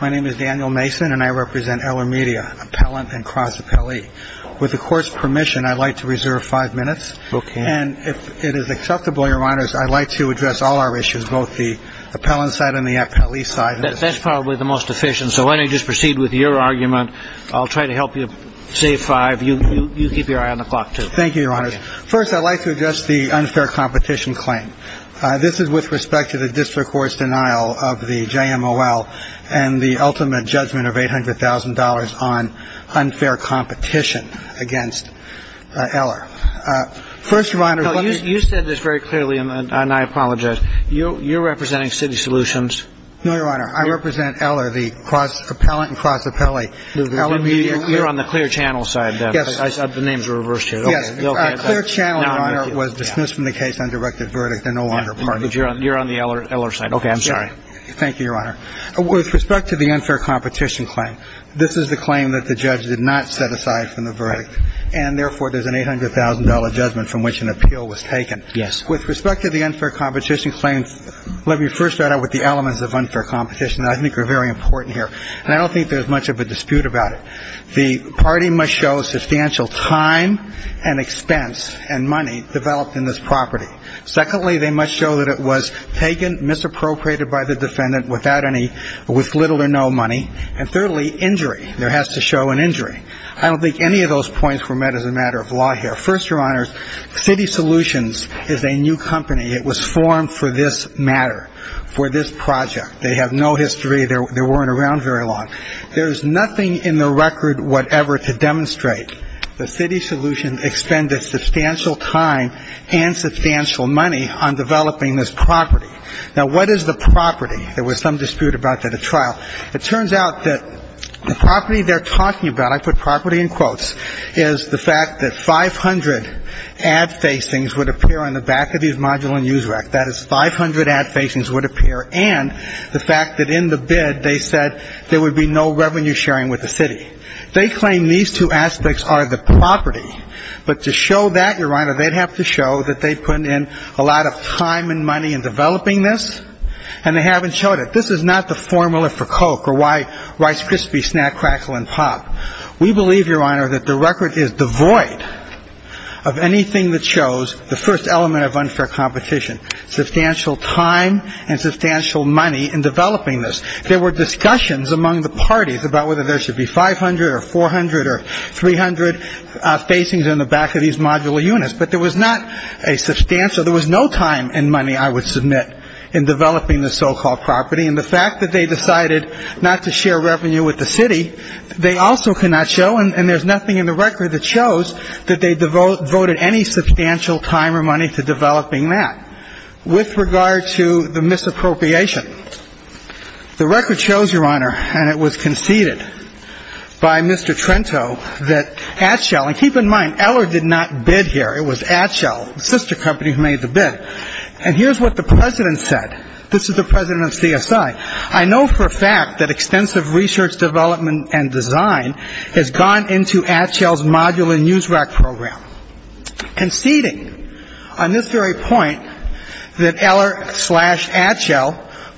My name is Daniel Mason and I represent Eller Media, Appellant and Cross-Appellee. With the Court's permission, I'd like to reserve five minutes. And if it is acceptable, Your Honors, I'd like to address all our issues, both the Appellant side and the Appellee side. That's probably the most efficient, so why don't you just proceed with your argument. I'll try to help you save five. You keep your eye on the clock, too. Thank you, Your Honors. First, I'd like to address the unfair competition claim. This is with respect to the District Court's denial of the JMOL and the ultimate judgment of $800,000 on unfair competition against Eller. First, Your Honor, let me... You said this very clearly, and I apologize. You're representing CITY SOLUTIONS. No, Your Honor. I represent Eller, the Cross-Appellant and Cross-Appellee. You're on the CLEAR CHANNEL side, then. Yes. The names are reversed here. Yes. CLEAR CHANNEL, Your Honor, was dismissed from the case, undirected verdict, and no longer parties. You're on the Eller side. Okay. I'm sorry. Thank you, Your Honor. With respect to the unfair competition claim, this is the claim that the judge did not set aside from the verdict, and therefore, there's an $800,000 judgment from which an appeal was taken. Yes. With respect to the unfair competition claim, let me first start out with the elements of unfair competition that I think are very important here, and I don't think there's much of a dispute about it. First, Your Honor, the party must show substantial time and expense and money developed in this property. Secondly, they must show that it was taken, misappropriated by the defendant without any ‑‑ with little or no money, and thirdly, injury. There has to show an injury. I don't think any of those points were met as a matter of law here. First, Your Honor, CITY SOLUTIONS is a new company. It was formed for this matter, for this project. They have no history. They weren't around very long. There is nothing in the record whatever to demonstrate that CITY SOLUTIONS expended substantial time and substantial money on developing this property. Now, what is the property? There was some dispute about that at trial. It turns out that the property they're talking about, I put property in quotes, is the fact that 500 ad facings would appear on the back of these module and use rec. That is, 500 ad facings would appear, and the fact that in the bid, they said there would be no revenue sharing with the city. They claim these two aspects are the property, but to show that, Your Honor, they'd have to show that they put in a lot of time and money in developing this, and they haven't showed it. This is not the formula for Coke or why Rice Krispie, Snack Crackle, and Pop. We believe, Your Honor, that the record is devoid of anything that shows the first element of unfair competition, substantial time and substantial money in developing this. There were discussions among the parties about whether there should be 500 or 400 or 300 facings in the back of these modular units. But there was not a substantial, there was no time and money, I would submit, in developing the so-called property. And the fact that they decided not to share revenue with the city, they also cannot show, and there's nothing in the record that shows that they devoted any substantial time or money to developing that. With regard to the misappropriation, the record shows, Your Honor, and it was conceded by Mr. Trento, that Atchell, and keep in mind, Eller did not bid here. It was Atchell, the sister company who made the bid. And here's what the President said, this is the President of CSI, I know for a fact that extensive research, development, and design has gone into Atchell's modular news rack program. Conceding on this very point that Eller slash Atchell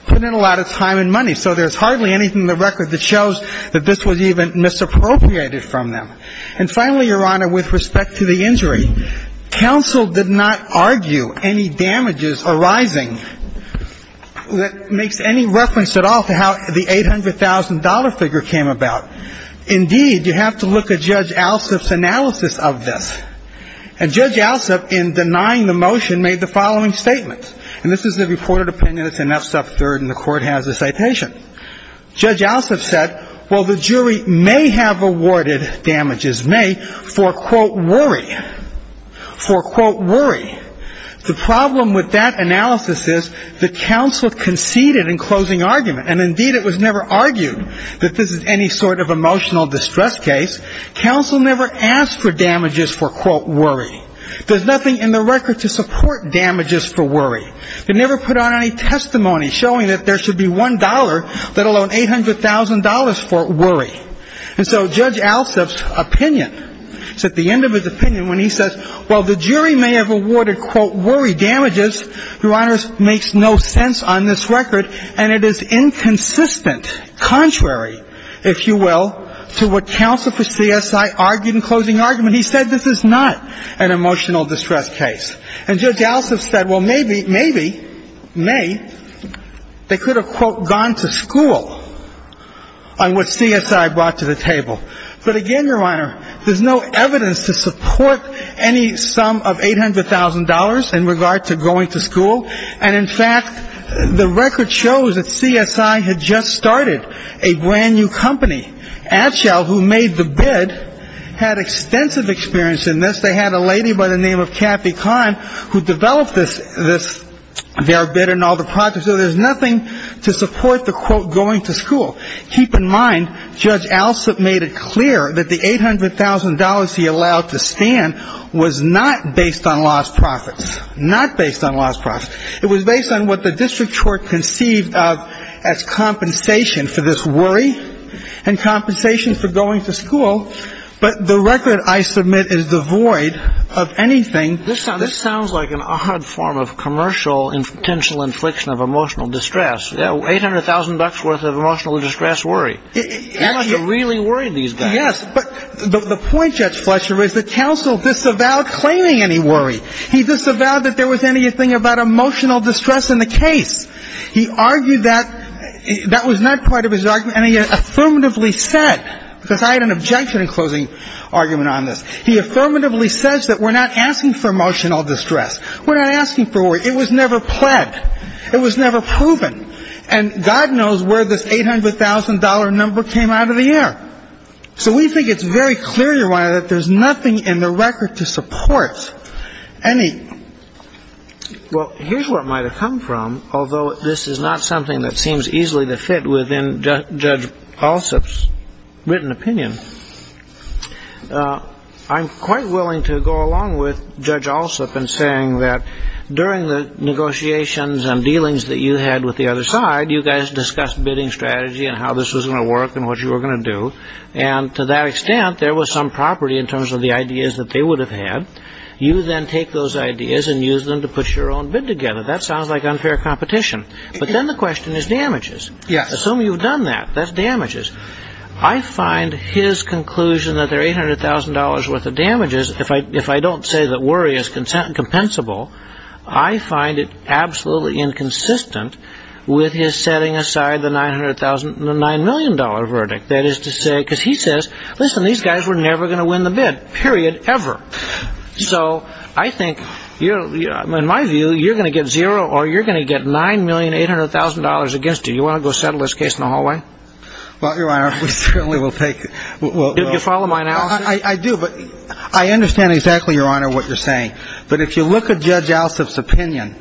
put in a lot of time and money. So there's hardly anything in the record that shows that this was even misappropriated from them. And finally, Your Honor, with respect to the injury, counsel did not argue any damages arising that makes any reference at all to how the $800,000 figure came about. Indeed, you have to look at Judge Alsup's analysis of this. And Judge Alsup, in denying the motion, made the following statement. And this is the reported opinion, it's in F-Sub 3rd, and the court has a citation. Judge Alsup said, well, the jury may have awarded damages, may, for, quote, worry. For, quote, worry. The problem with that analysis is the counsel conceded in closing argument. And indeed, it was never argued that this is any sort of emotional distress case. Counsel never asked for damages for, quote, worry. There's nothing in the record to support damages for worry. They never put on any testimony showing that there should be $1, let alone $800,000 for worry. And so Judge Alsup's opinion, it's at the end of his opinion when he says, well, the jury may have awarded, quote, worry damages. Your Honor, it makes no sense on this record, and it is inconsistent, contrary, if you will, to what counsel for CSI argued in closing argument. He said this is not an emotional distress case. And Judge Alsup said, well, maybe, may, they could have, quote, gone to school on what CSI brought to the table. But again, Your Honor, there's no evidence to support any sum of $800,000 in regard to going to school. And in fact, the record shows that CSI had just started a brand new company. Atchell, who made the bid, had extensive experience in this. They had a lady by the name of Kathy Kahn, who developed this, their bid and all the projects. So there's nothing to support the, quote, going to school. Keep in mind, Judge Alsup made it clear that the $800,000 he allowed to stand was not based on lost profits, not based on lost profits. It was based on what the district court conceived of as compensation for this worry and compensation for going to school. But the record, I submit, is devoid of anything. This sounds like an odd form of commercial and potential infliction of emotional distress. Yeah, $800,000 worth of emotional distress worry. That must have really worried these guys. Yes, but the point, Judge Fletcher, is the counsel disavowed claiming any worry. He disavowed that there was anything about emotional distress in the case. He argued that that was not part of his argument. And he affirmatively said, because I had an objection in closing argument on this. He affirmatively says that we're not asking for emotional distress. We're not asking for worry. It was never pled. It was never proven. And God knows where this $800,000 number came out of the air. So we think it's very clear, Your Honor, that there's nothing in the record to support any. Well, here's where it might have come from. Although this is not something that seems easily to fit within Judge Allsup's written opinion. I'm quite willing to go along with Judge Allsup in saying that during the negotiations and dealings that you had with the other side, you guys discussed bidding strategy and how this was going to work and what you were going to do. And to that extent, there was some property in terms of the ideas that they would have had. You then take those ideas and use them to put your own bid together. That sounds like unfair competition. But then the question is damages. Yes. Assume you've done that. That's damages. I find his conclusion that there are $800,000 worth of damages, if I don't say that worry is compensable, I find it absolutely inconsistent with his setting aside the $900,000, no, $9 million verdict. That is to say, because he says, listen, these guys were never going to win the bid, period, ever. So I think, in my view, you're going to get zero or you're going to get $9,800,000 against you. You want to go settle this case in the hallway? Well, Your Honor, we certainly will take it. Do you follow my analysis? I do, but I understand exactly, Your Honor, what you're saying. But if you look at Judge Alsop's opinion,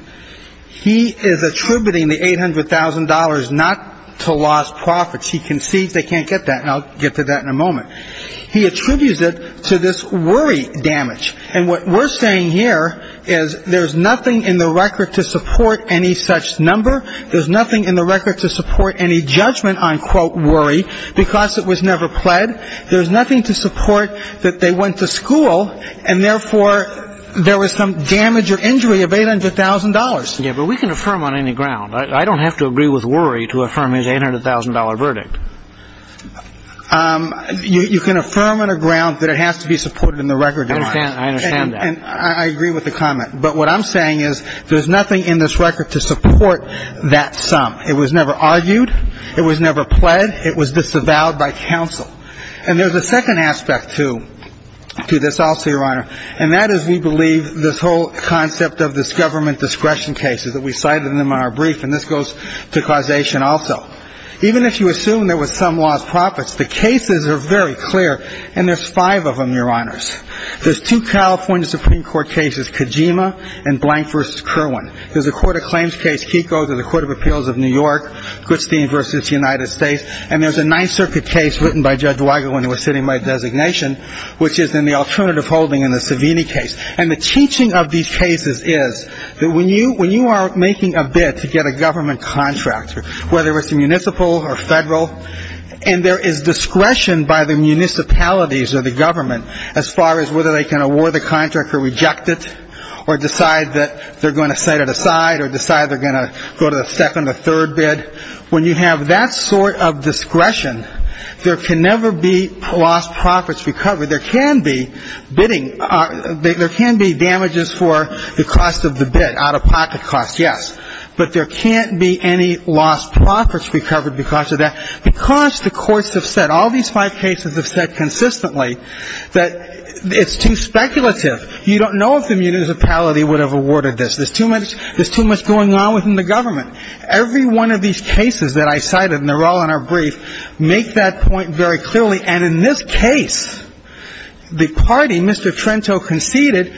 he is attributing the $800,000 not to lost profits. He concedes they can't get that, and I'll get to that in a moment. He attributes it to this worry damage. And what we're saying here is there's nothing in the record to support any such number. There's nothing in the record to support any judgment on, quote, worry because it was never pled. There's nothing to support that they went to school and, therefore, there was some damage or injury of $800,000. Yeah, but we can affirm on any ground. I don't have to agree with worry to affirm his $800,000 verdict. You can affirm on a ground that it has to be supported in the record, Your Honor. I understand that. And I agree with the comment. But what I'm saying is there's nothing in this record to support that sum. It was never argued. It was never pled. It was disavowed by counsel. And there's a second aspect to this also, Your Honor. And that is, we believe, this whole concept of this government discretion cases that we cited in our brief. And this goes to causation also. Even if you assume there was some lost profits, the cases are very clear. And there's five of them, Your Honors. There's two California Supreme Court cases, Kojima and Blank v. Kerwin. There's a court of claims case, Kiko, to the Court of Appeals of New York, Goodstein v. United States. And there's a Ninth Circuit case written by Judge Weigel when he was sitting by designation, which is in the alternative holding in the Savini case. And the teaching of these cases is that when you are making a bid to get a government contract, whether it's a municipal or federal, and there is discretion by the municipalities or the government as far as whether they can award the contract or reject it or decide that they're going to set it aside or decide they're going to go to the second or third bid, when you have that sort of discretion, there can never be lost profits recovered. There can be bidding or there can be damages for the cost of the bid, out-of-pocket costs, yes. But there can't be any lost profits recovered because of that. Because the courts have said, all these five cases have said consistently that it's too speculative. You don't know if the municipality would have awarded this. There's too much going on within the government. Every one of these cases that I cited, and they're all in our brief, make that point very clearly. And in this case, the party, Mr. Trento, conceded,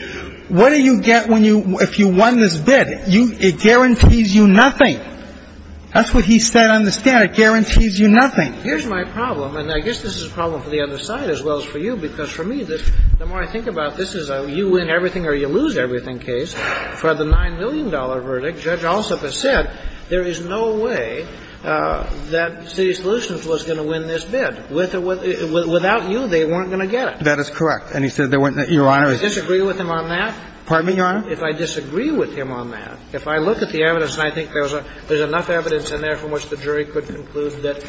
what do you get if you won this bid? It guarantees you nothing. That's what he said. I don't understand. It guarantees you nothing. Here's my problem. And I guess this is a problem for the other side as well as for you. Because for me, the more I think about this as a you win everything or you lose everything case, for the $9 million verdict, Judge Alsop has said there is no way that City Solutions was going to win this bid. Without you, they weren't going to get it. That is correct. And he said they weren't going to get it. Your Honor, if you disagree with him on that, if I disagree with him on that, if I look at the evidence and I think there's enough evidence in there from which the jury could conclude that,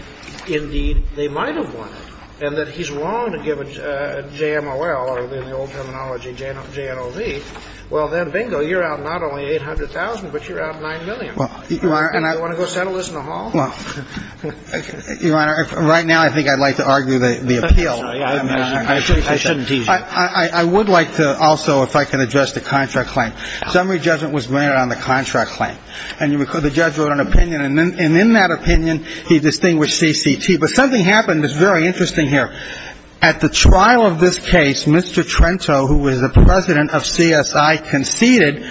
indeed, they might have won it, and that he's wrong to give a JMOL or, in the old terminology, JNOV, well, then, bingo, you're out not only $800,000, but you're out $9 million. Well, Your Honor, and I don't want to go settle this in the hall. Well, Your Honor, right now, I think I'd like to argue the appeal. I shouldn't tease you. I would like to also, if I can address the contract claim. Summary judgment was granted on the contract claim. And the judge wrote an opinion, and in that opinion, he distinguished CCT. But something happened that's very interesting here. At the trial of this case, Mr. Trento, who was the president of CSI, conceded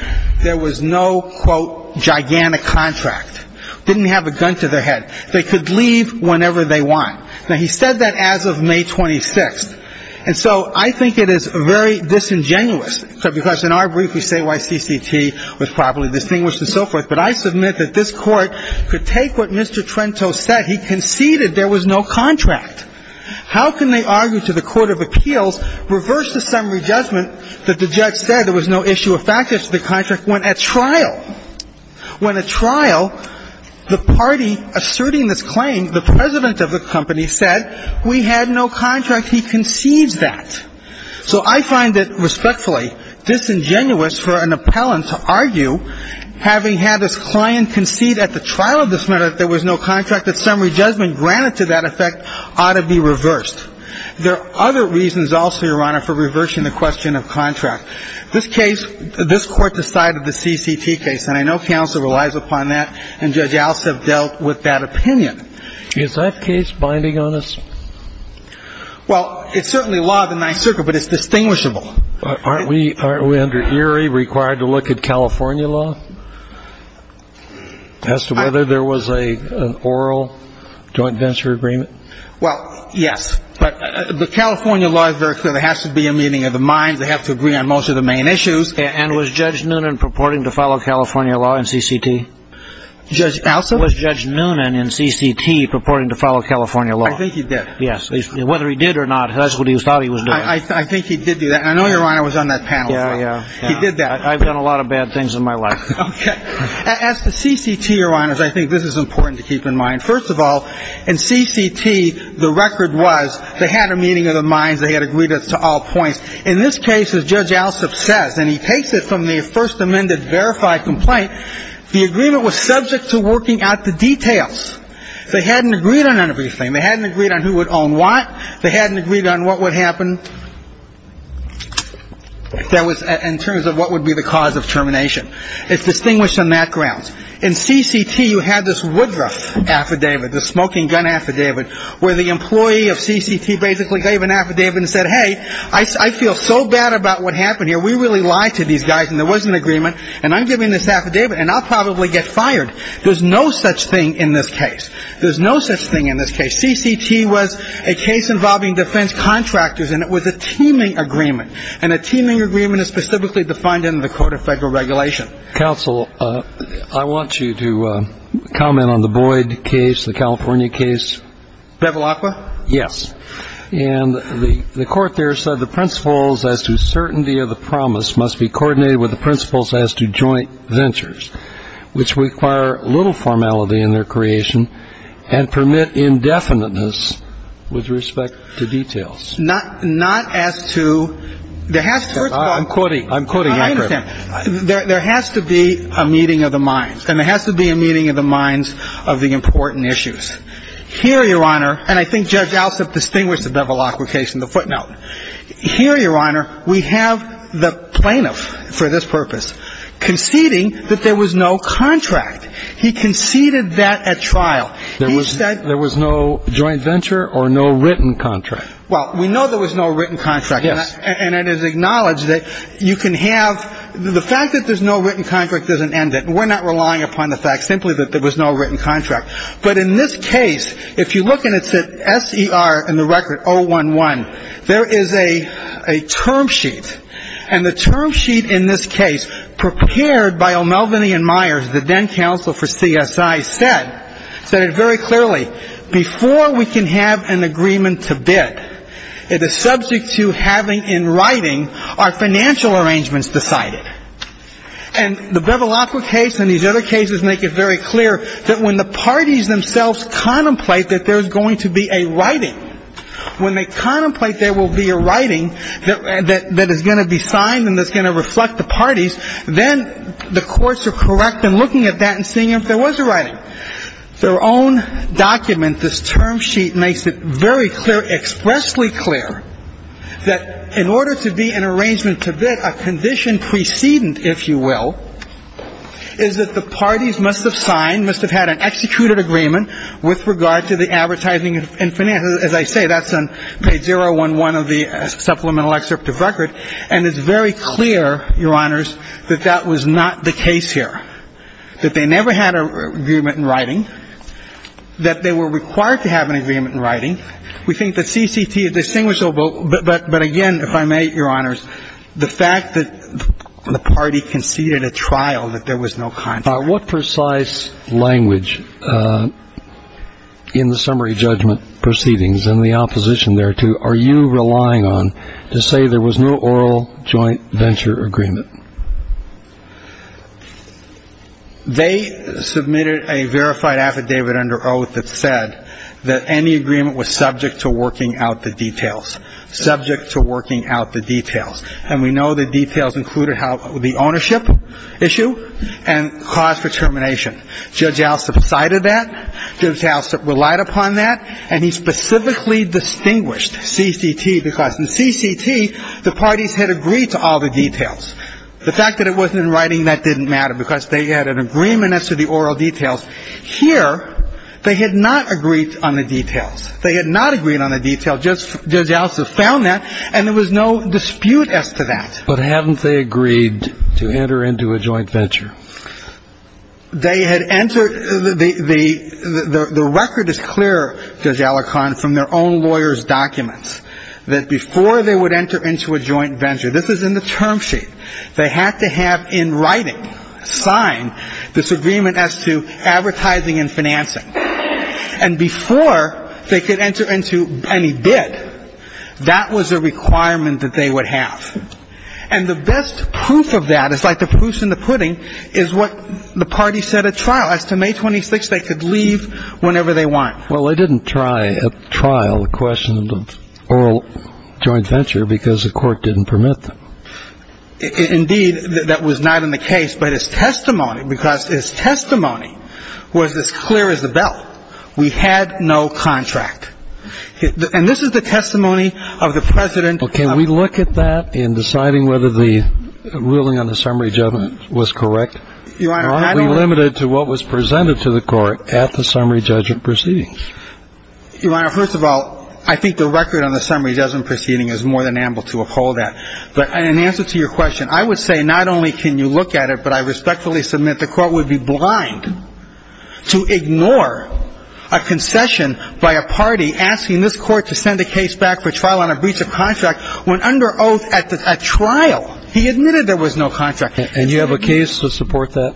there was no, quote, gigantic contract. Didn't have a gun to their head. They could leave whenever they want. Now, he said that as of May 26th. And so, I think it is very disingenuous, because in our brief, we say why CCT was properly distinguished and so forth. But I submit that this Court could take what Mr. Trento said. He conceded there was no contract. How can they argue to the Court of Appeals, reverse the summary judgment that the judge said there was no issue effective to the contract when at trial? When at trial, the party asserting this claim, the president of the company, said we had no contract. He concedes that. So I find it respectfully disingenuous for an appellant to argue, having had this client concede at the trial of this matter that there was no contract, that summary judgment granted to that effect ought to be reversed. There are other reasons also, Your Honor, for reversing the question of contract. This case, this Court decided the CCT case. And I know counsel relies upon that, and Judge Alstub dealt with that opinion. Is that case binding on us? Well, it's certainly law of the Ninth Circuit, but it's distinguishable. Aren't we under Erie required to look at California law as to whether there was an oral joint venture agreement? Well, yes. But the California law is very clear. There has to be a meeting of the minds. They have to agree on most of the main issues. And was Judge Noonan purporting to follow California law in CCT? Judge Alstub? Was Judge Noonan in CCT purporting to follow California law? I think he did. Yes. Whether he did or not, that's what he thought he was doing. I think he did do that. And I know Your Honor was on that panel. Yeah, yeah. He did that. I've done a lot of bad things in my life. Okay. As to CCT, Your Honors, I think this is important to keep in mind. First of all, in CCT, the record was they had a meeting of the minds. They had agreed to all points. In this case, as Judge Alstub says, and he takes it from the First Amendment verified complaint, the agreement was subject to working out the details. They hadn't agreed on everything. They hadn't agreed on who would own what. They hadn't agreed on what would happen in terms of what would be the cause of termination. It's distinguished on that grounds. In CCT, you had this Woodruff affidavit, the smoking gun affidavit, where the employee of CCT basically gave an affidavit and said, hey, I feel so bad about what happened here. We really lied to these guys. And there was an agreement. And I'm giving this affidavit. And I'll probably get fired. There's no such thing in this case. There's no such thing in this case. CCT was a case involving defense contractors. And it was a teaming agreement. And a teaming agreement is specifically defined in the Court of Federal Regulation. Counsel, I want you to comment on the Boyd case, the California case. Bevilacqua? Yes. And the Court there said the principles as to certainty of the promise must be coordinated with the principles as to joint ventures, which require little formality in their creation and permit indefiniteness with respect to details. Not as to there has to be a meeting of the minds. And there has to be a meeting of the minds of the important issues. Here, Your Honor, and I think Judge Alsop distinguished the Bevilacqua case in the footnote. Here, Your Honor, we have the plaintiff for this purpose conceding that there was no contract. He conceded that at trial. There was no joint venture or no written contract. Well, we know there was no written contract. Yes. And it is acknowledged that you can have the fact that there's no written contract doesn't end it. We're not relying upon the fact simply that there was no written contract. But in this case, if you look and it's at SER and the record 011, there is a term sheet. And the term sheet in this case prepared by O'Melveny and Myers, the then counsel for CSI, said it very clearly. Before we can have an agreement to bid, it is subject to having in writing our financial arrangements decided. And the Bevilacqua case and these other cases make it very clear that when the parties themselves contemplate that there's going to be a writing, when they contemplate there will be a writing that is going to be signed and that's going to reflect the parties, then the courts are correct in looking at that and seeing if there was a writing. Their own document, this term sheet, makes it very clear, expressly clear, that in order to be in arrangement to bid, a condition precedent, if you will, is that the parties must have signed, must have had an executed agreement with regard to the advertising and finance. As I say, that's on page 011 of the supplemental excerpt of record. And it's very clear, Your Honors, that that was not the case here, that they never had an agreement in writing, that they were required to have an agreement in writing. We think that CCT is distinguishable, but again, if I may, Your Honors, the fact that the party conceded a trial that there was no contact. What precise language in the summary judgment proceedings and the opposition there to, are you relying on to say there was no oral joint venture agreement? They submitted a verified affidavit under oath that said that any agreement was subject to working out the details, subject to working out the details. And we know the details included the ownership issue and cause for termination. Judge Alstup cited that. Judge Alstup relied upon that. And he specifically distinguished CCT because in CCT, the parties had agreed to all the details. The fact that it wasn't in writing, that didn't matter because they had an agreement as to the oral details. Here, they had not agreed on the details. They had not agreed on the details. Judge Alstup found that, and there was no dispute as to that. But haven't they agreed to enter into a joint venture? They had entered, the record is clear, Judge Alicorn, from their own lawyer's documents, that before they would enter into a joint venture, this is in the term sheet, they had to have in writing, sign this agreement as to advertising and financing. And before they could enter into any bid, that was a requirement that they would have. And the best proof of that, it's like the puss in the pudding, is what the party said at trial. As to May 26, they could leave whenever they want. Well, they didn't try at trial the question of oral joint venture because the court didn't permit them. Indeed, that was not in the case. But his testimony, because his testimony was as clear as the bell. We had no contract. And this is the testimony of the president. Well, can we look at that in deciding whether the ruling on the summary judgment was correct? Your Honor, I don't... Why are we limited to what was presented to the court at the summary judgment proceedings? Your Honor, first of all, I think the record on the summary judgment proceeding is more than ample to uphold that. But in answer to your question, I would say not only can you look at it, but I respectfully submit the court would be blind to ignore a concession by a party asking this court to send the case back for trial on a breach of contract when under oath at trial, he admitted there was no contract. And you have a case to support that,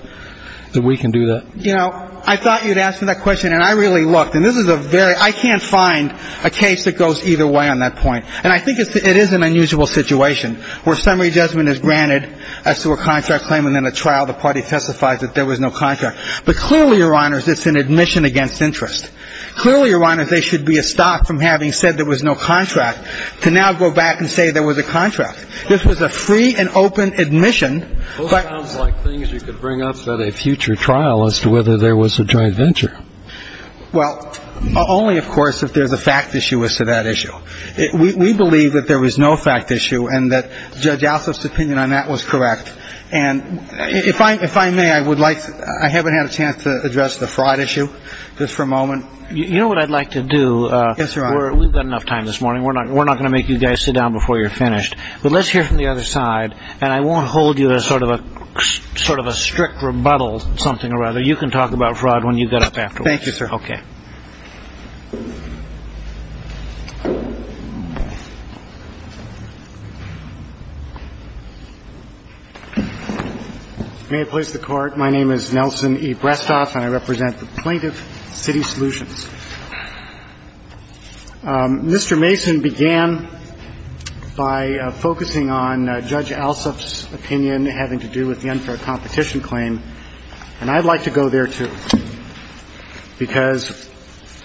that we can do that? You know, I thought you'd asked me that question, and I really looked. And this is a very... I can't find a case that goes either way on that point. And I think it is an unusual situation where summary judgment is granted as to a contract claim, and then at trial, the party testifies that there was no contract. But clearly, Your Honor, it's an admission against interest. Clearly, Your Honor, there should be a stop from having said there was no contract to now go back and say there was a contract. This was a free and open admission, but... Well, it sounds like things you could bring up at a future trial as to whether there was a joint venture. Well, only, of course, if there's a fact issue as to that issue. We believe that there was no fact issue and that Judge Alsop's opinion on that was correct. And if I may, I would like... I haven't had a chance to address the fraud issue, just for a moment. You know what I'd like to do? Yes, Your Honor. We've got enough time this morning. We're not going to make you guys sit down before you're finished. But let's hear from the other side, and I won't hold you to sort of a strict rebuttal something or other. You can talk about fraud when you get up afterwards. Thank you, sir. Okay. May it please the Court. My name is Nelson E. Brestoff, and I represent the Plaintiff City Solutions. Mr. Mason began by focusing on Judge Alsop's opinion having to do with the unfair competition claim, and I'd like to go there, too, because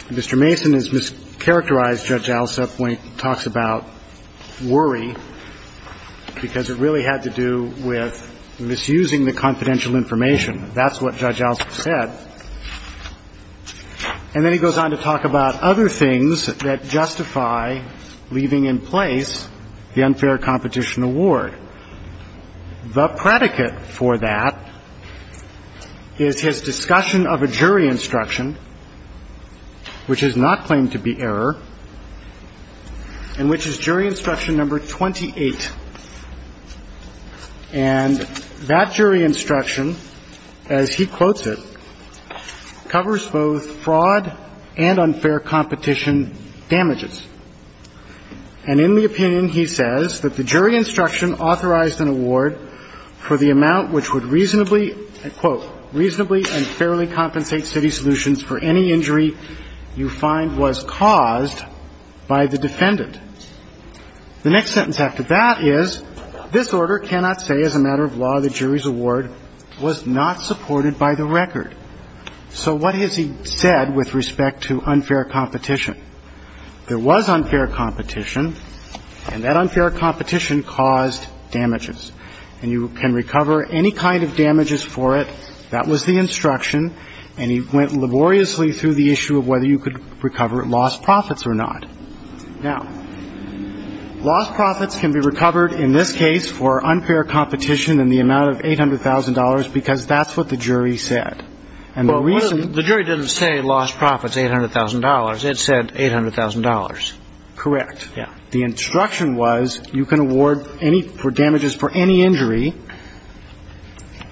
Mr. Mason has mischaracterized Judge Alsop when he talks about worry, because it really had to do with misusing the confidential information. That's what Judge Alsop said. And then he goes on to talk about other things that justify leaving in place the unfair competition award. The predicate for that is his discussion of a jury instruction, which is not claimed to be error, and which is jury instruction number 28. And that jury instruction, as he quotes it, covers both fraud and unfair competition damages. And in the opinion, he says that the jury instruction authorized an award for the amount which would reasonably, quote, reasonably and fairly compensate City Solutions for any damages caused by the defendant. The next sentence after that is, this order cannot say as a matter of law the jury's award was not supported by the record. So what has he said with respect to unfair competition? There was unfair competition, and that unfair competition caused damages. And you can recover any kind of damages for it. That was the instruction, and he went laboriously through the issue of whether you could recover lost profits or not. Now, lost profits can be recovered in this case for unfair competition in the amount of $800,000 because that's what the jury said. And the reason the jury didn't say lost profits, $800,000, it said $800,000. Correct. Yeah. The instruction was you can award any damages for any injury.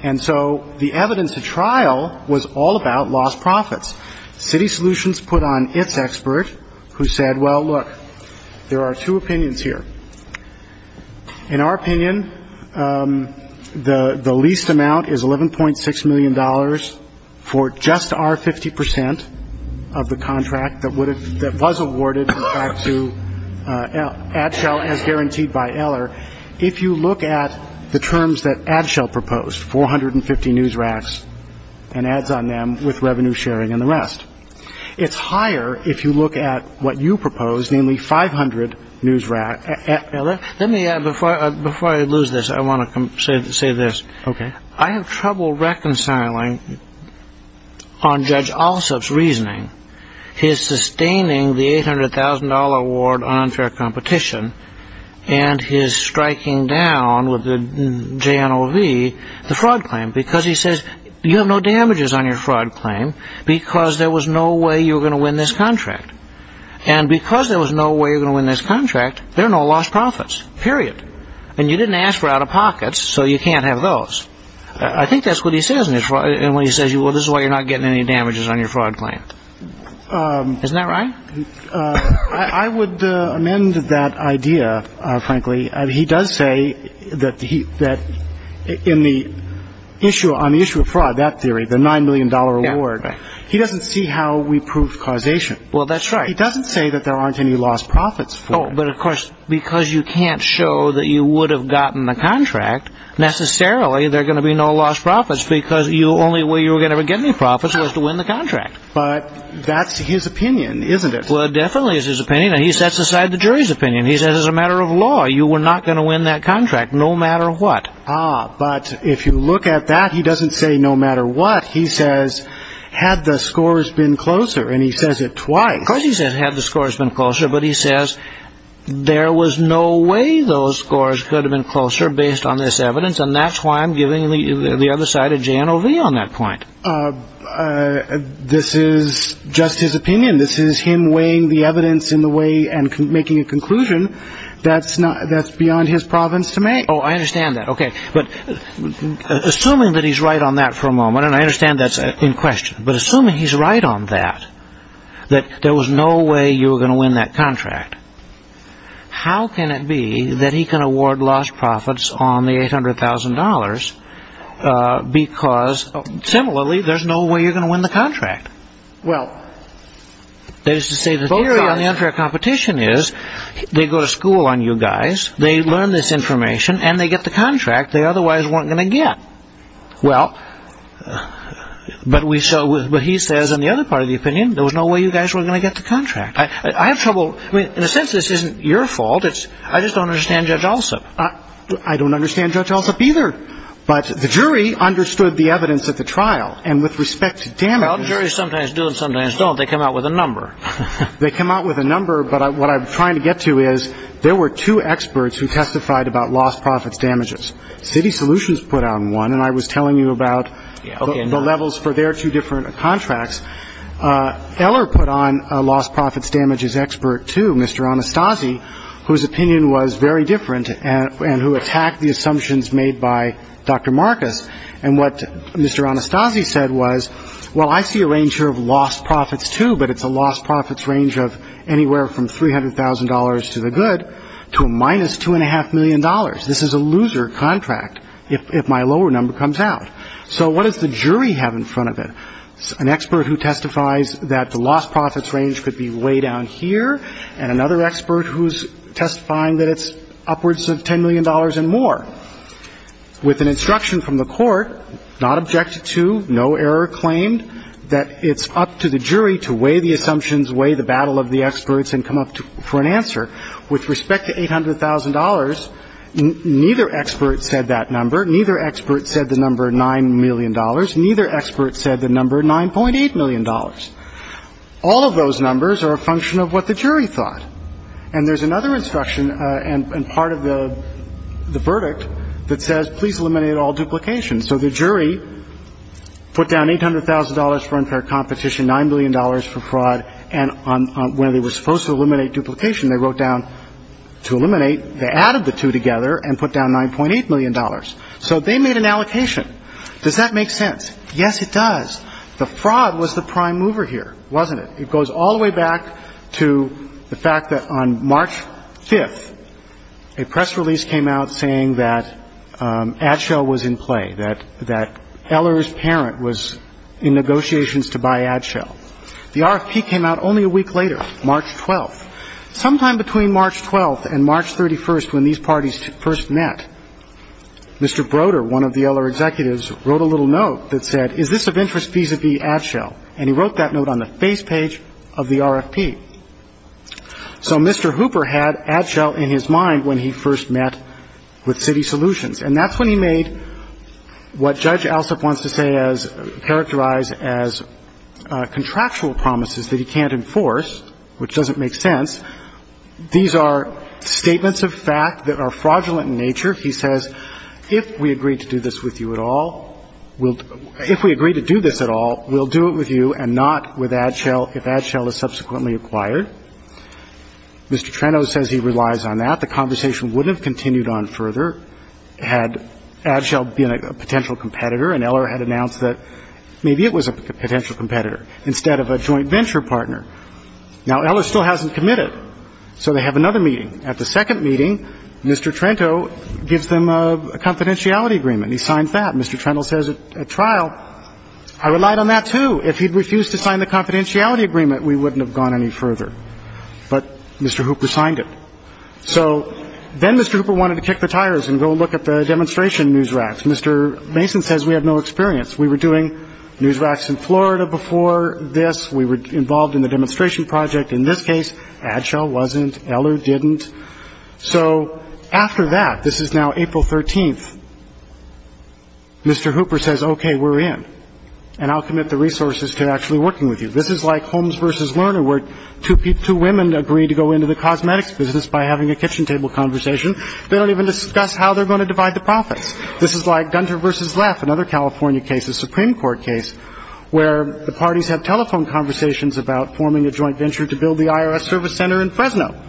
And so the evidence of trial was all about lost profits. City Solutions put on its expert who said, well, look, there are two opinions here. In our opinion, the least amount is $11.6 million for just our 50% of the contract that was awarded back to Ad Shell as guaranteed by Eller. If you look at the terms that Ad Shell proposed, 450 news racks and ads on them with revenue sharing and the rest. It's higher if you look at what you proposed, namely 500 news rack. Let me add, before I lose this, I want to say this. OK. I have trouble reconciling on Judge Alsup's reasoning, his sustaining the $800,000 award on unfair competition and his striking down with the JNLV the fraud claim because he says you have no damages on your fraud claim because there was no way you were going to win this contract. And because there was no way you're going to win this contract, there are no lost profits, period. And you didn't ask for out-of-pockets, so you can't have those. I think that's what he says when he says, well, this is why you're not getting any damages on your fraud claim. Isn't that right? I would amend that idea, frankly. He does say that in the issue on the issue of fraud, that theory, the $9 million award, he doesn't see how we prove causation. Well, that's right. He doesn't say that there aren't any lost profits. But of course, because you can't show that you would have gotten the contract, necessarily there are going to be no lost profits because the only way you were going to get any profits was to win the contract. But that's his opinion, isn't it? Well, it definitely is his opinion. And he sets aside the jury's opinion. He says, as a matter of law, you were not going to win that contract, no matter what. Ah, but if you look at that, he doesn't say, no matter what. He says, had the scores been closer. And he says it twice. Of course, he said, had the scores been closer. But he says, there was no way those scores could have been closer based on this evidence. And that's why I'm giving the other side of JNOV on that point. This is just his opinion. This is him weighing the evidence in the way and making a conclusion that's beyond his province to make. Oh, I understand that. OK. But assuming that he's right on that for a moment, and I understand that's in question. But assuming he's right on that, that there was no way you were going to win that contract, how can it be that he can award lost profits on the $800,000 because, similarly, there's no way you're going to win the contract? Well, that is to say, the theory on the unfair competition is they go to school on you guys, they learn this information, and they get the contract they otherwise weren't going to get. Well, but he says, on the other part of the opinion, there was no way you guys were going to get the contract. I have trouble. In a sense, this isn't your fault. I just don't understand Judge Alsup. I don't understand Judge Alsup either. But the jury understood the evidence at the trial. And with respect to damages. Well, juries sometimes do and sometimes don't. They come out with a number. They come out with a number. But what I'm trying to get to is there were two experts who testified about lost profits damages. City Solutions put out one, and I was telling you about the levels for their two different contracts. Eller put on a lost profits damages expert, too, Mr. Anastasi, whose opinion was very different and who attacked the assumptions made by Dr. Marcus. And what Mr. Anastasi said was, well, I see a range here of lost profits, too, but it's a lost profits range of anywhere from $300,000 to the good to a minus $2.5 million. This is a loser contract if my lower number comes out. So what does the jury have in front of it? An expert who testifies that the lost profits range could be way down here. And another expert who's testifying that it's upwards of $10 million and more. With an instruction from the court, not objected to, no error claimed, that it's up to the jury to weigh the assumptions, weigh the battle of the experts, and come up for an answer. With respect to $800,000, neither expert said that number. Neither expert said the number $9 million. Neither expert said the number $9.8 million. All of those numbers are a function of what the jury thought. And there's another instruction and part of the verdict that says, please eliminate all duplication. So the jury put down $800,000 for unfair competition, $9 million for fraud. And when they were supposed to eliminate duplication, they wrote down, to eliminate, they added the two together and put down $9.8 million. So they made an allocation. Does that make sense? Yes, it does. The fraud was the prime mover here, wasn't it? It goes all the way back to the fact that on March 5th, a press release came out saying that AdShell was in play, that Eller's parent was in negotiations to buy AdShell. The RFP came out only a week later, March 12th. Sometime between March 12th and March 31st, when these parties first met, Mr. Broder, one of the Eller executives, wrote a little note that said, is this of interest vis-a-vis AdShell? And he wrote that note on the face page of the RFP. So Mr. Hooper had AdShell in his mind when he first met with Citi Solutions. And that's when he made what Judge Alsup wants to say as, characterize as, contractual promises that he can't enforce, which doesn't make sense. He says, if we agree to do this at all, we'll do it with you and not with AdShell, if AdShell is subsequently acquired. Mr. Trento says he relies on that. The conversation wouldn't have continued on further had AdShell been a potential competitor and Eller had announced that maybe it was a potential competitor instead of a joint venture partner. Now, Eller still hasn't committed. So they have another meeting. At the second meeting, Mr. Trento gives them a confidentiality agreement. He signs that. Mr. Trento says at trial, I relied on that too. If he'd refused to sign the confidentiality agreement, we wouldn't have gone any further. But Mr. Hooper signed it. So then Mr. Hooper wanted to kick the tires and go look at the demonstration news racks. Mr. Mason says we have no experience. We were doing news racks in Florida before this. We were involved in the demonstration project. In this case, AdShell wasn't. Eller didn't. So after that, this is now April 13th, Mr. Hooper says, OK, we're in. And I'll commit the resources to actually working with you. This is like Holmes versus Lerner, where two women agree to go into the cosmetics business by having a kitchen table conversation. They don't even discuss how they're going to divide the profits. This is like Gunter versus Leff, another California case, a Supreme Court case, where the parties have telephone conversations about forming a joint venture to build the IRS service center in Fresno.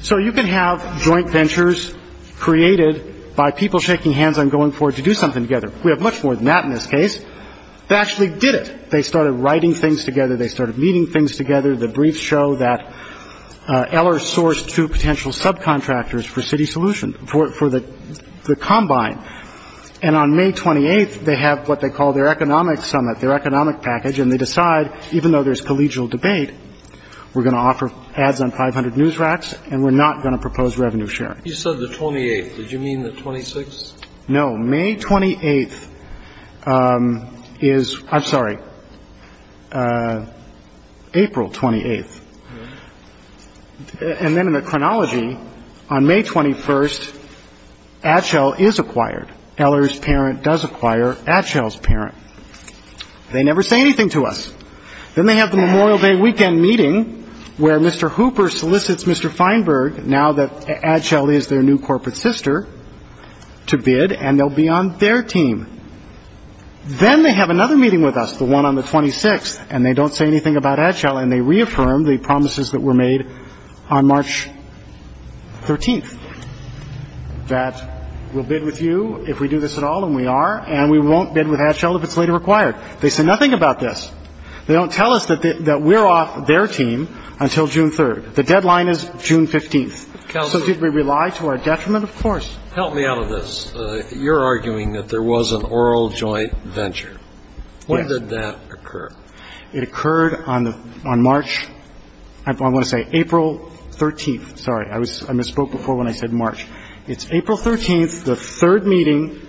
So you can have joint ventures created by people shaking hands and going forward to do something together. We have much more than that in this case. They actually did it. They started writing things together. They started meeting things together. The briefs show that Eller sourced two potential subcontractors for City Solution for the combine. And on May 28th, they have what they call their economic summit, their economic package. And they decide, even though there's collegial debate, we're going to offer ads on 500 news racks and we're not going to propose revenue sharing. You said the 28th. Did you mean the 26th? No. May 28th is I'm sorry, April 28th. And then in the chronology on May 21st, Adchel is acquired. Eller's parent does acquire Adchel's parent. They never say anything to us. Then they have the Memorial Day weekend meeting where Mr. Hooper solicits Mr. Feinberg now that Adchel is their new corporate sister to bid and they'll be on their team. Then they have another meeting with us, the one on the 26th, and they don't say anything about Adchel. And they reaffirmed the promises that were made on March 13th that we'll bid with you if we do this at all. And we are and we won't bid with Adchel if it's later required. They said nothing about this. They don't tell us that we're off their team until June 3rd. The deadline is June 15th. So did we rely to our detriment? Of course. Help me out of this. You're arguing that there was an oral joint venture. When did that occur? It occurred on March. I want to say April 13th. Sorry, I misspoke before when I said March. It's April 13th, the third meeting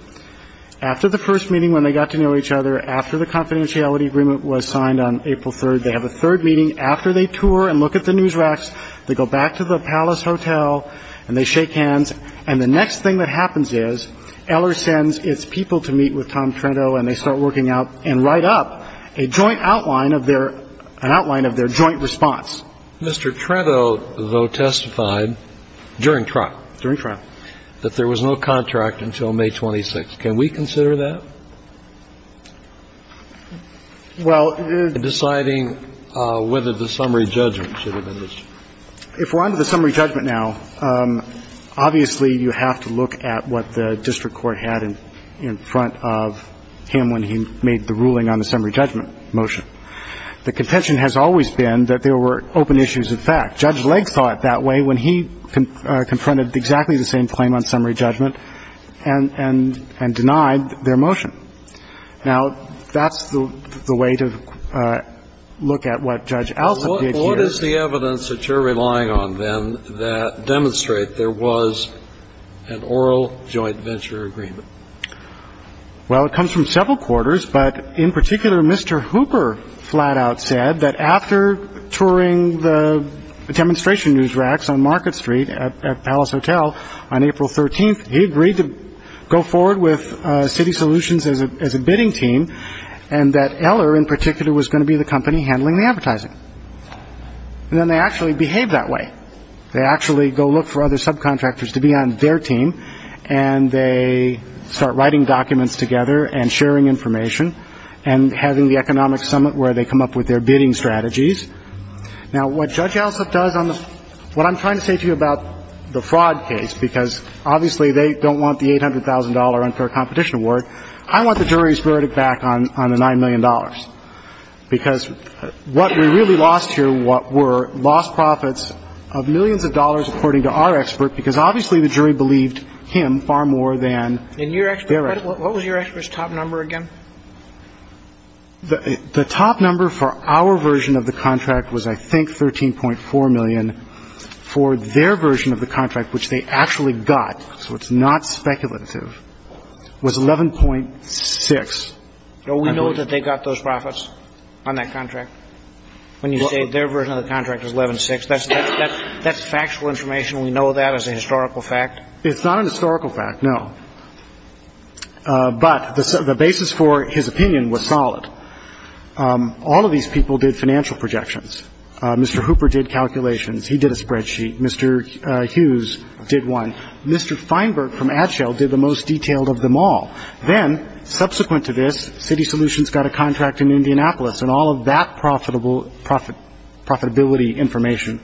after the first meeting when they got to know each other, after the confidentiality agreement was signed on April 3rd. They have a third meeting after they tour and look at the news racks. They go back to the Palace Hotel and they shake hands. And the next thing that happens is Eller sends its people to meet with Tom Trento and they start working out and write up a joint outline of their joint response. Mr. Trento, though, testified during trial that there was no contract until May 26th. Can we consider that in deciding whether the summary judgment should have been issued? If we're on to the summary judgment now, obviously, you have to look at what the evidence that you're relying on, then, that demonstrate there was an oral joint venture agreement. Well, it comes from several points. But in particular, Mr. Hooper flat out said that after touring the demonstration news racks on Market Street at Palace Hotel on April 13th, he agreed to go forward with City Solutions as a bidding team and that Eller in particular was going to be the company handling the advertising. And then they actually behave that way. They actually go look for other subcontractors to be on their team and they start writing documents together and sharing information and having the economic summit where they come up with their bidding strategies. Now, what Judge Alsop does on the – what I'm trying to say to you about the fraud case, because obviously they don't want the $800,000 unfair competition award, I want the jury's verdict back on the $9 million, because what we really lost here were lost profits of millions of dollars, according to our expert, because obviously the jury believed him far more than their expert. What was your expert's top number again? The top number for our version of the contract was, I think, $13.4 million. For their version of the contract, which they actually got, so it's not speculative, was $11.6 million. We know that they got those profits on that contract. When you say their version of the contract is $11.6 million, that's factual information. We know that as a historical fact. It's not a historical fact, no. But the basis for his opinion was solid. All of these people did financial projections. Mr. Hooper did calculations. He did a spreadsheet. Mr. Hughes did one. Mr. Feinberg from AdShell did the most detailed of them all. Then, subsequent to this, City Solutions got a contract in Indianapolis, and all of that profitability information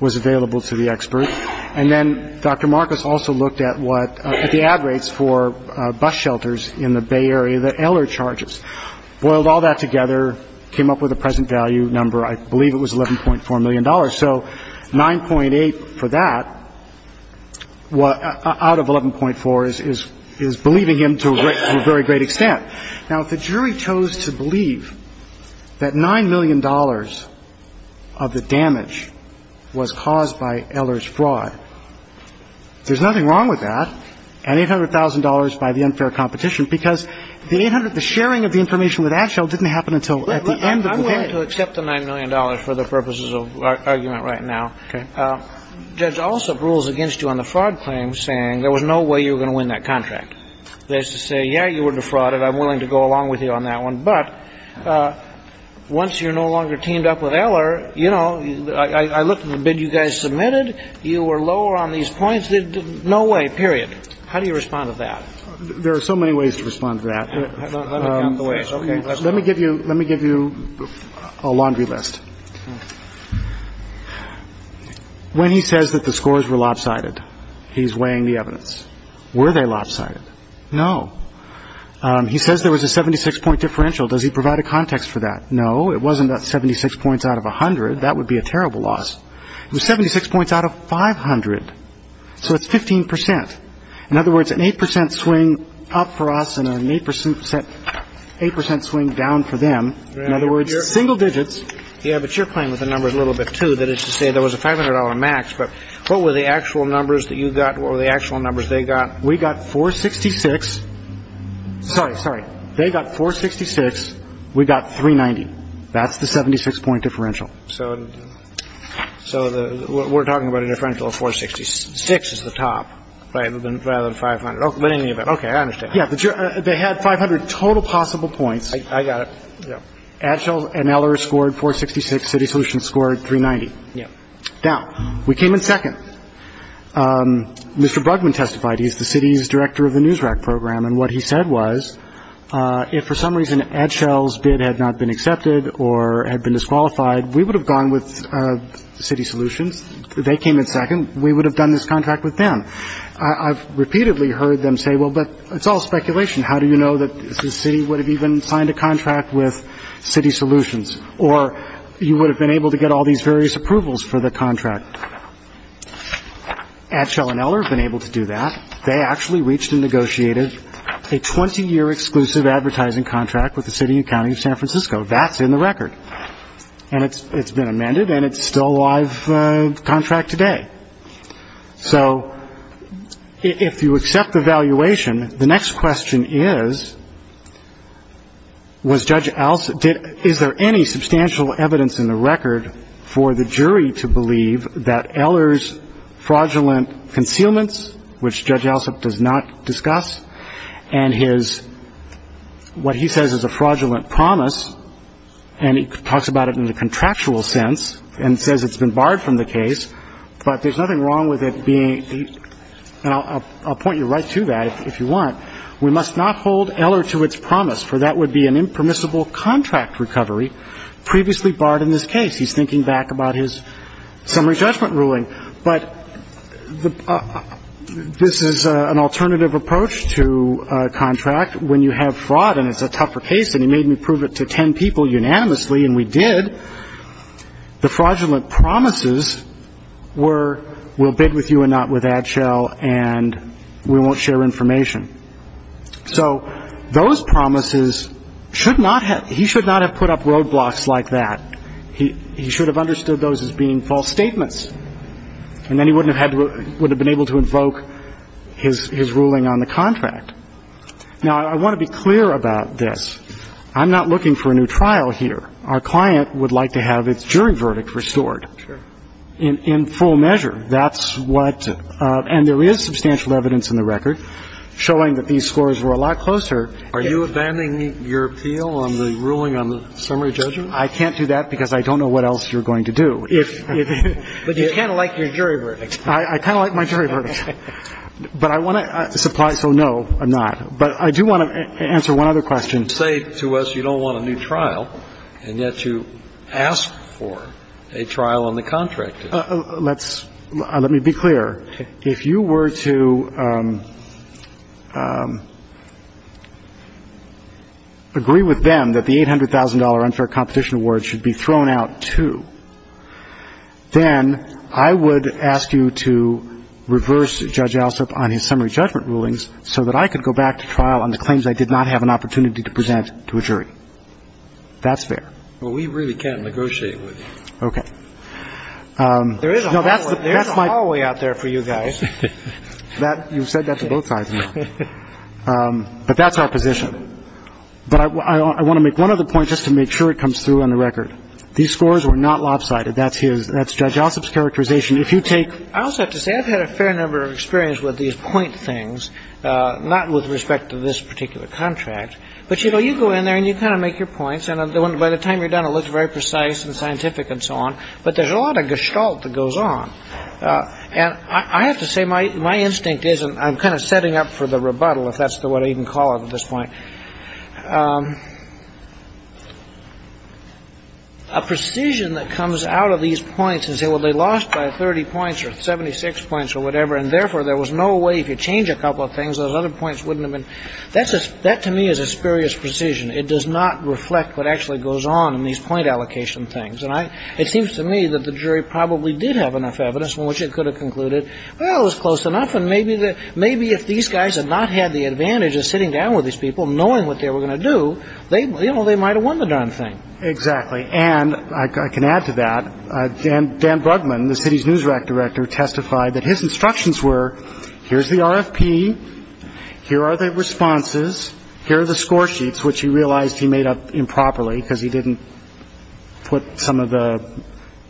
was available to the expert. And then Dr. Marcus also looked at what the ad rates for bus shelters in the Bay Area, the Eller charges. Boiled all that together, came up with a present value number. I believe it was $11.4 million. So 9.8 for that out of 11.4 is believing him to a very great extent. Now, if the jury chose to believe that $9 million of the damage was caused by Eller's fraud, there's nothing wrong with that, and $800,000 by the unfair competition, because the 800, the sharing of the information with AdShell didn't happen until at the end of the day. I'm willing to accept the $9 million for the purposes of argument right now. Okay. Judge Alsop rules against you on the fraud claim saying there was no way you were going to win that contract. That's to say, yeah, you were defrauded. I'm willing to go along with you on that one. But once you're no longer teamed up with Eller, you know, I looked at the bid you guys submitted. You were lower on these points. No way, period. How do you respond to that? There are so many ways to respond to that. Let me give you a laundry list. When he says that the scores were lopsided, he's weighing the evidence. Were they lopsided? No. He says there was a 76 point differential. Does he provide a context for that? No, it wasn't that 76 points out of 100. That would be a terrible loss. It was 76 points out of 500. So it's 15%. In other words, an 8% swing up for us and an 8% swing down for them. In other words, single digits. Yeah, but you're playing with the numbers a little bit, too, that is to say there was a $500 max. But what were the actual numbers that you got? What were the actual numbers they got? We got 466. Sorry. Sorry. They got 466. We got 390. That's the 76 point differential. So so we're talking about a differential of 466 is the top rather than rather than 500. But any of it. OK, I understand. Yeah, but they had 500 total possible points. I got it. Yeah. Atchell and Eller scored 466. City Solutions scored 390. Yeah. Now we came in second. Mr. Brugman testified he's the city's director of the NewsRack program. And what he said was if for some reason Atchell's bid had not been accepted or had been disqualified, we would have gone with City Solutions. They came in second. We would have done this contract with them. I've repeatedly heard them say, well, but it's all speculation. How do you know that the city would have even signed a contract with City Solutions? Or you would have been able to get all these various approvals for the contract? Atchell and Eller have been able to do that. They actually reached and negotiated a 20-year exclusive advertising contract with the city and county of San Francisco. That's in the record. And it's it's been amended. And it's still a live contract today. So if you accept the valuation, the next question is, was Judge Els, is there any substantial evidence in the record for the jury to believe that Eller's fraudulent concealments, which Judge Elsop does not discuss, and his what he says is a fraudulent promise, and he talks about it in the contractual sense and says it's been barred from the case, but there's nothing wrong with it being. And I'll point you right to that if you want. We must not hold Eller to its promise, for that would be an impermissible contract recovery previously barred in this case. He's thinking back about his summary judgment ruling. But this is an alternative approach to a contract. When you have fraud and it's a tougher case, and he made me prove it to 10 people unanimously, and we did, the fraudulent promises were we'll bid with you and not with Atchell, and we won't share information. So those promises should not have he should not have put up roadblocks like that. He should have understood those as being false statements. And then he wouldn't have had to would have been able to invoke his ruling on the contract. Now, I want to be clear about this. I'm not looking for a new trial here. Our client would like to have its jury verdict restored in full measure. That's what and there is substantial evidence in the record showing that these scores were a lot closer. Are you abandoning your appeal on the ruling on the summary judgment? I can't do that because I don't know what else you're going to do. But you kind of like your jury verdict. I kind of like my jury verdict. But I want to supply. So no, I'm not. But I do want to answer one other question. You say to us you don't want a new trial, and yet you ask for a trial on the contract. Let's let me be clear. If you were to agree with them that the $800,000 unfair competition award should be thrown out, I would not go back to trial on the claims I did not have an opportunity to present to a jury. That's fair. Well, we really can't negotiate with you. OK. There is a hallway out there for you guys. That you said that to both sides. But that's our position. But I want to make one other point just to make sure it comes through on the record. These scores were not lopsided. That's his. That's Judge Ossoff's characterization. If you take. I also have to say I've had a fair number of experience with these point things, not with respect to this particular contract. But, you know, you go in there and you kind of make your points. And by the time you're done, it looks very precise and scientific and so on. But there's a lot of gestalt that goes on. And I have to say my instinct isn't I'm kind of setting up for the rebuttal, if that's what I even call it at this point. A precision that comes out of these points and say, well, they lost by 30 points or 76 points or whatever, and therefore there was no way if you change a couple of things, those other points wouldn't have been. That's that to me is a spurious precision. It does not reflect what actually goes on in these point allocation things. And I it seems to me that the jury probably did have enough evidence in which it could have concluded, well, it was close enough. And maybe that maybe if these guys had not had the advantage of sitting down with these people knowing what they were going to do, they you know, they might have won the darn thing. Exactly. And I can add to that. Dan Brugman, the city's news director, testified that his instructions were, here's the RFP. Here are the responses. Here are the score sheets, which he realized he made up improperly because he didn't put some of the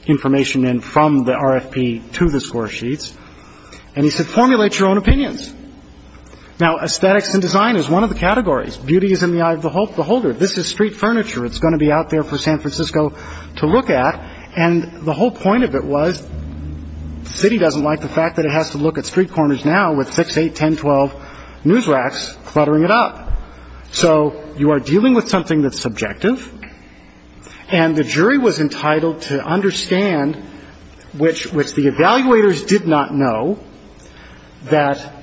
information in from the RFP to the score sheets. And he said, formulate your own opinions. Now, aesthetics and design is one of the categories. Beauty is in the eye of the beholder. This is street furniture. It's going to be out there for San Francisco to look at. And the whole point of it was the city doesn't like the fact that it has to look at street corners now with 6, 8, 10, 12 news racks cluttering it up. So you are dealing with something that's subjective. And the jury was entitled to understand which the evaluators did not know that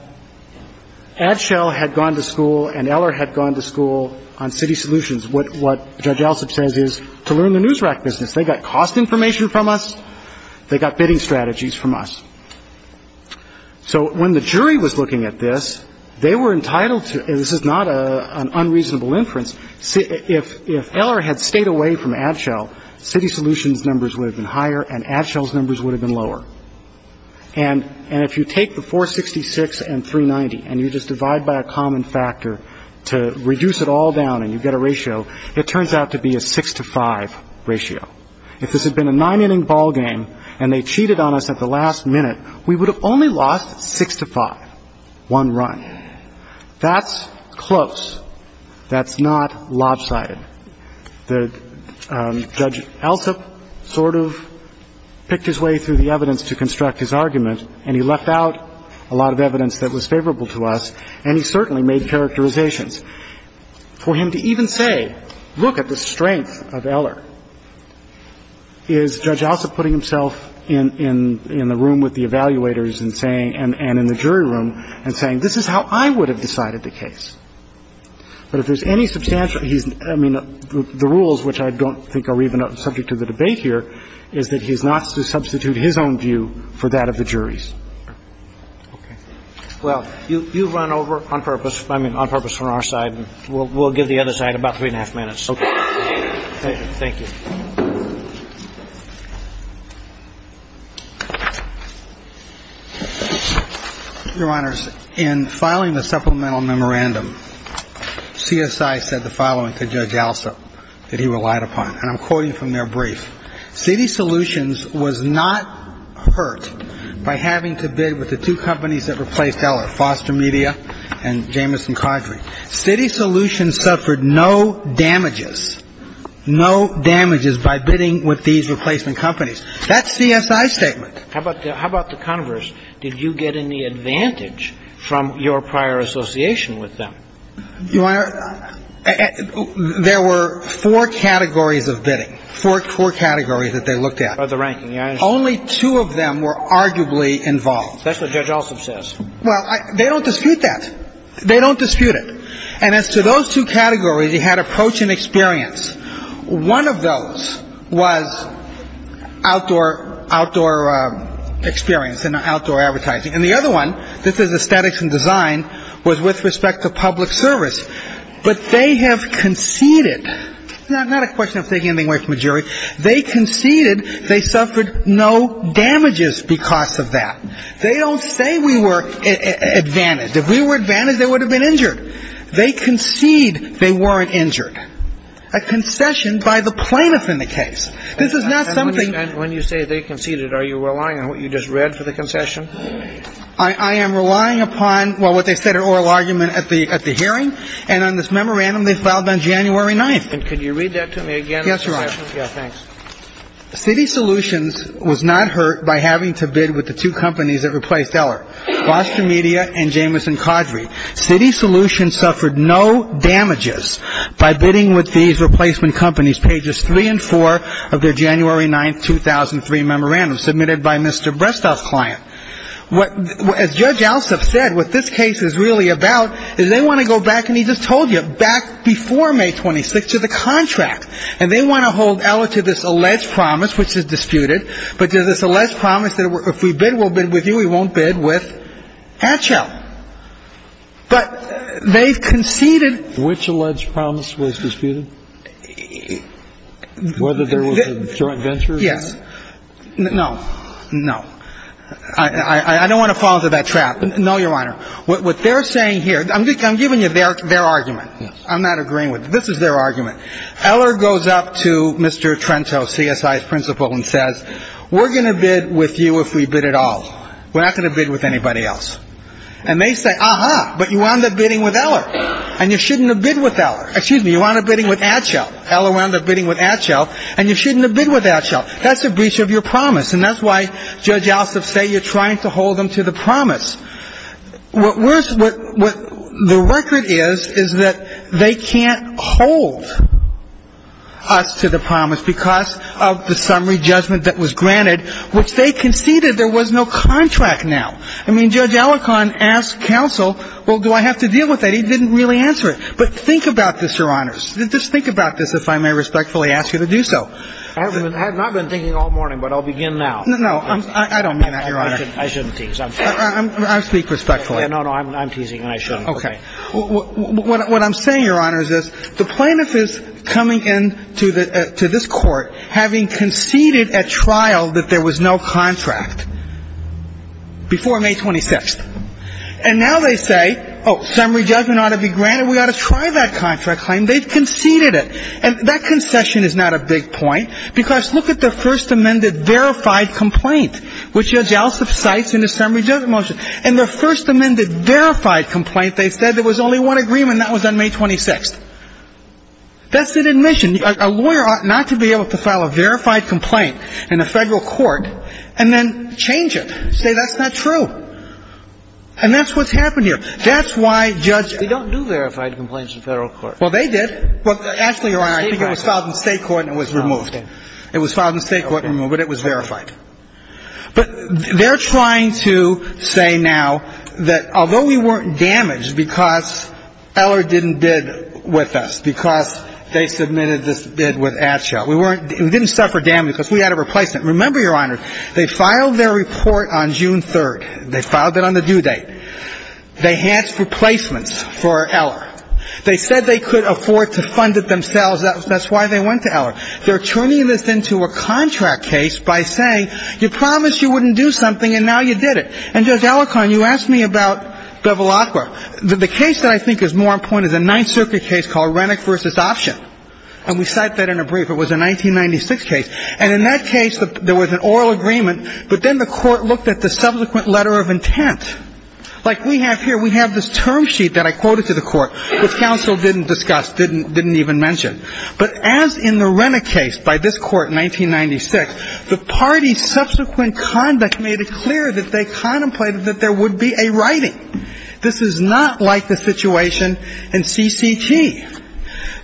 Adshell had gone to school and Eller had gone to school on city solutions. What Judge Alsop says is to learn the news rack business. They got cost information from us. They got bidding strategies from us. So when the jury was looking at this, they were entitled to, this is not an unreasonable inference, if Eller had stayed away from Adshell, city solutions numbers would have been higher and Adshell's numbers would have been lower. And if you take the 466 and 390 and you just divide by a common factor to reduce it all down and you get a ratio, it turns out to be a 6 to 5 ratio. If this had been a nine inning ball game and they cheated on us at the last minute, we would have only lost 6 to 5, one run. That's close. That's not lopsided. The Judge Alsop sort of picked his way through the evidence to construct his argument and he left out a lot of evidence that was favorable to us and he certainly made characterizations. For him to even say, look at the strength of Eller, is Judge Alsop putting himself in the room with the evaluators and saying, and in the jury room and saying, this is how I would have decided the case. But if there's any substantial, I mean, the rules, which I don't think are even subject to the debate here, is that he's not to substitute his own view for that of the jury's. Okay. Well, you run over on purpose, I mean, on purpose from our side. We'll give the other side about three and a half minutes. Okay. Thank you. Your Honor, in filing the supplemental memorandum, CSI said the following to Judge Alsop that he relied upon, and I'm quoting from their brief. City Solutions was not hurt by having to bid with the two companies that replaced Eller, Foster Media and Jamison Codring. That's CSI's statement. That's CSI's statement. How about the converse? Did you get any advantage from your prior association with them? Your Honor, there were four categories of bidding. Four categories that they looked at. Of the ranking, yes? Only two of them were arguably involved. That's what Judge Alsop says. Well, they don't dispute that. They don't dispute it. And as to those two categories, he had approach and experience. One of those was outdoor experience and outdoor advertising. And the other one, this is aesthetics and design, was with respect to public service. But they have conceded. Not a question of taking anything away from a jury. They conceded they suffered no damages because of that. They don't say we were advantaged. If we were advantaged, they would have been injured. They concede they weren't injured. A concession by the plaintiff in the case. This is not something... When you say they conceded, are you relying on what you just read for the concession? I am relying upon, well, what they said in oral argument at the hearing. And on this memorandum they filed on January 9th. And could you read that to me again? Yes, Your Honor. Yeah, thanks. Citi Solutions was not hurt by having to bid with the two companies that replaced Eller, Gloucester Media and Jamison Cawdry. Citi Solutions suffered no damages by bidding with these replacement companies, pages 3 and 4 of their January 9th, 2003 memorandum submitted by Mr. Brestov's client. As Judge Alsop said, what this case is really about is they want to go back, and he just told you, back before May 26th to the contract. And they want to hold Eller to this alleged promise, which is disputed, but to this alleged promise that if we bid, we'll bid with you, we won't bid with Hatchell. But they've conceded. Which alleged promise was disputed? Whether there was a joint venture? Yes. No. No. I don't want to fall into that trap. No, Your Honor. What they're saying here, I'm giving you their argument. I'm not agreeing with it. This is their argument. Eller goes up to Mr. Trento, CSI's principal, and says, we're going to bid with you if we bid at all. We're not going to bid with anybody else. And they say, aha, but you wound up bidding with Eller. And you shouldn't have bid with Eller. Excuse me, you wound up bidding with Hatchell. Eller wound up bidding with Hatchell. And you shouldn't have bid with Hatchell. That's a breach of your promise. And that's why Judge Alsop say you're trying to hold them to the promise. What the record is, is that they can't hold us to the promise because of the summary judgment that was granted, which they conceded there was no contract now. I mean, Judge Alicorn asked counsel, well, do I have to deal with that? He didn't really answer it. But think about this, Your Honors. Just think about this, if I may respectfully ask you to do so. I have not been thinking all morning, but I'll begin now. No, I don't mean that, Your Honor. I shouldn't tease. I speak respectfully. No, no, I'm teasing, and I shouldn't. OK. What I'm saying, Your Honors, is the plaintiff is coming in to this court, having conceded at trial that there was no contract. Before May 26th. And now they say, oh, summary judgment ought to be granted. We ought to try that contract claim. They've conceded it. And that concession is not a big point, because look at the first amended verified complaint, which Judge Alsop cites in the summary judgment motion. In the first amended verified complaint, they said there was only one agreement, and that was on May 26th. That's an admission. A lawyer ought not to be able to file a verified complaint in a federal court, and then change it. Say that's not true. And that's what's happened here. That's why Judge- They don't do verified complaints in federal court. Well, they did. Well, actually, Your Honor, I think it was filed in state court, and it was removed. It was filed in state court and removed, but it was verified. But they're trying to say now that although we weren't damaged because Eller didn't bid with us, because they submitted this bid with Atchell, we didn't suffer damage because we had a replacement. Remember, Your Honor, they filed their report on June 3rd. They filed it on the due date. They asked for replacements for Eller. They said they could afford to fund it themselves. That's why they went to Eller. They're turning this into a contract case by saying, you promised you wouldn't do something, and now you did it. And, Judge Alicorn, you asked me about Bevilacqua. The case that I think is more important is a Ninth Circuit case called Rennick v. Option, and we cite that in a brief. It was a 1996 case. And in that case, there was an oral agreement, but then the Court looked at the subsequent letter of intent. Like we have here, we have this term sheet that I quoted to the Court, which counsel didn't discuss, didn't even mention. But as in the Rennick case by this Court in 1996, the parties' subsequent conduct made it clear that they contemplated that there would be a writing. This is not like the situation in CCT.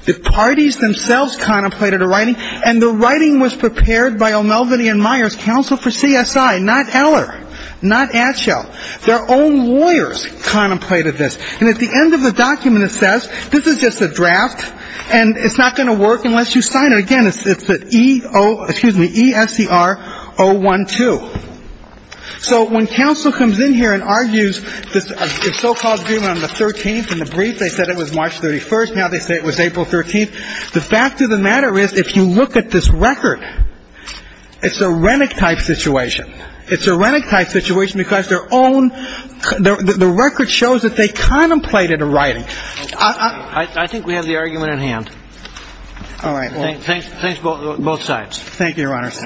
The parties themselves contemplated a writing, and the writing was prepared by O'Melveny and Myers Counsel for CSI, not Eller, not Atschel. Their own lawyers contemplated this. And at the end of the document, it says, this is just a draft, and it's not going to work unless you sign it. Again, it's the E-O, excuse me, E-S-C-R-O-1-2. So when counsel comes in here and argues this so-called agreement on the 13th, in the brief, they said it was March 31st. Now they say it was April 13th. The fact of the matter is, if you look at this record, it's a Rennick-type situation. It's a Rennick-type situation because their own – the record shows that they contemplated a writing. I think we have the argument at hand. All right. Thanks, both sides. Thank you, Your Honors.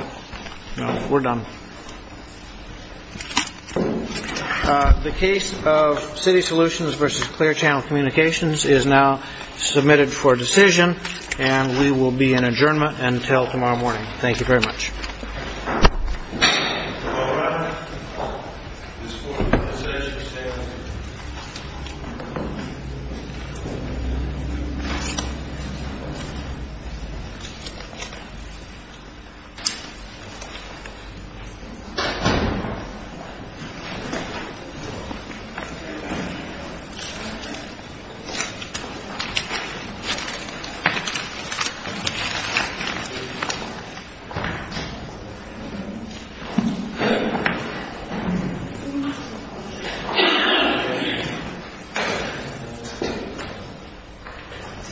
We're done. The case of City Solutions versus Clear Channel Communications is now submitted for decision, and we will be in adjournment until tomorrow morning. Thank you very much. Thank you.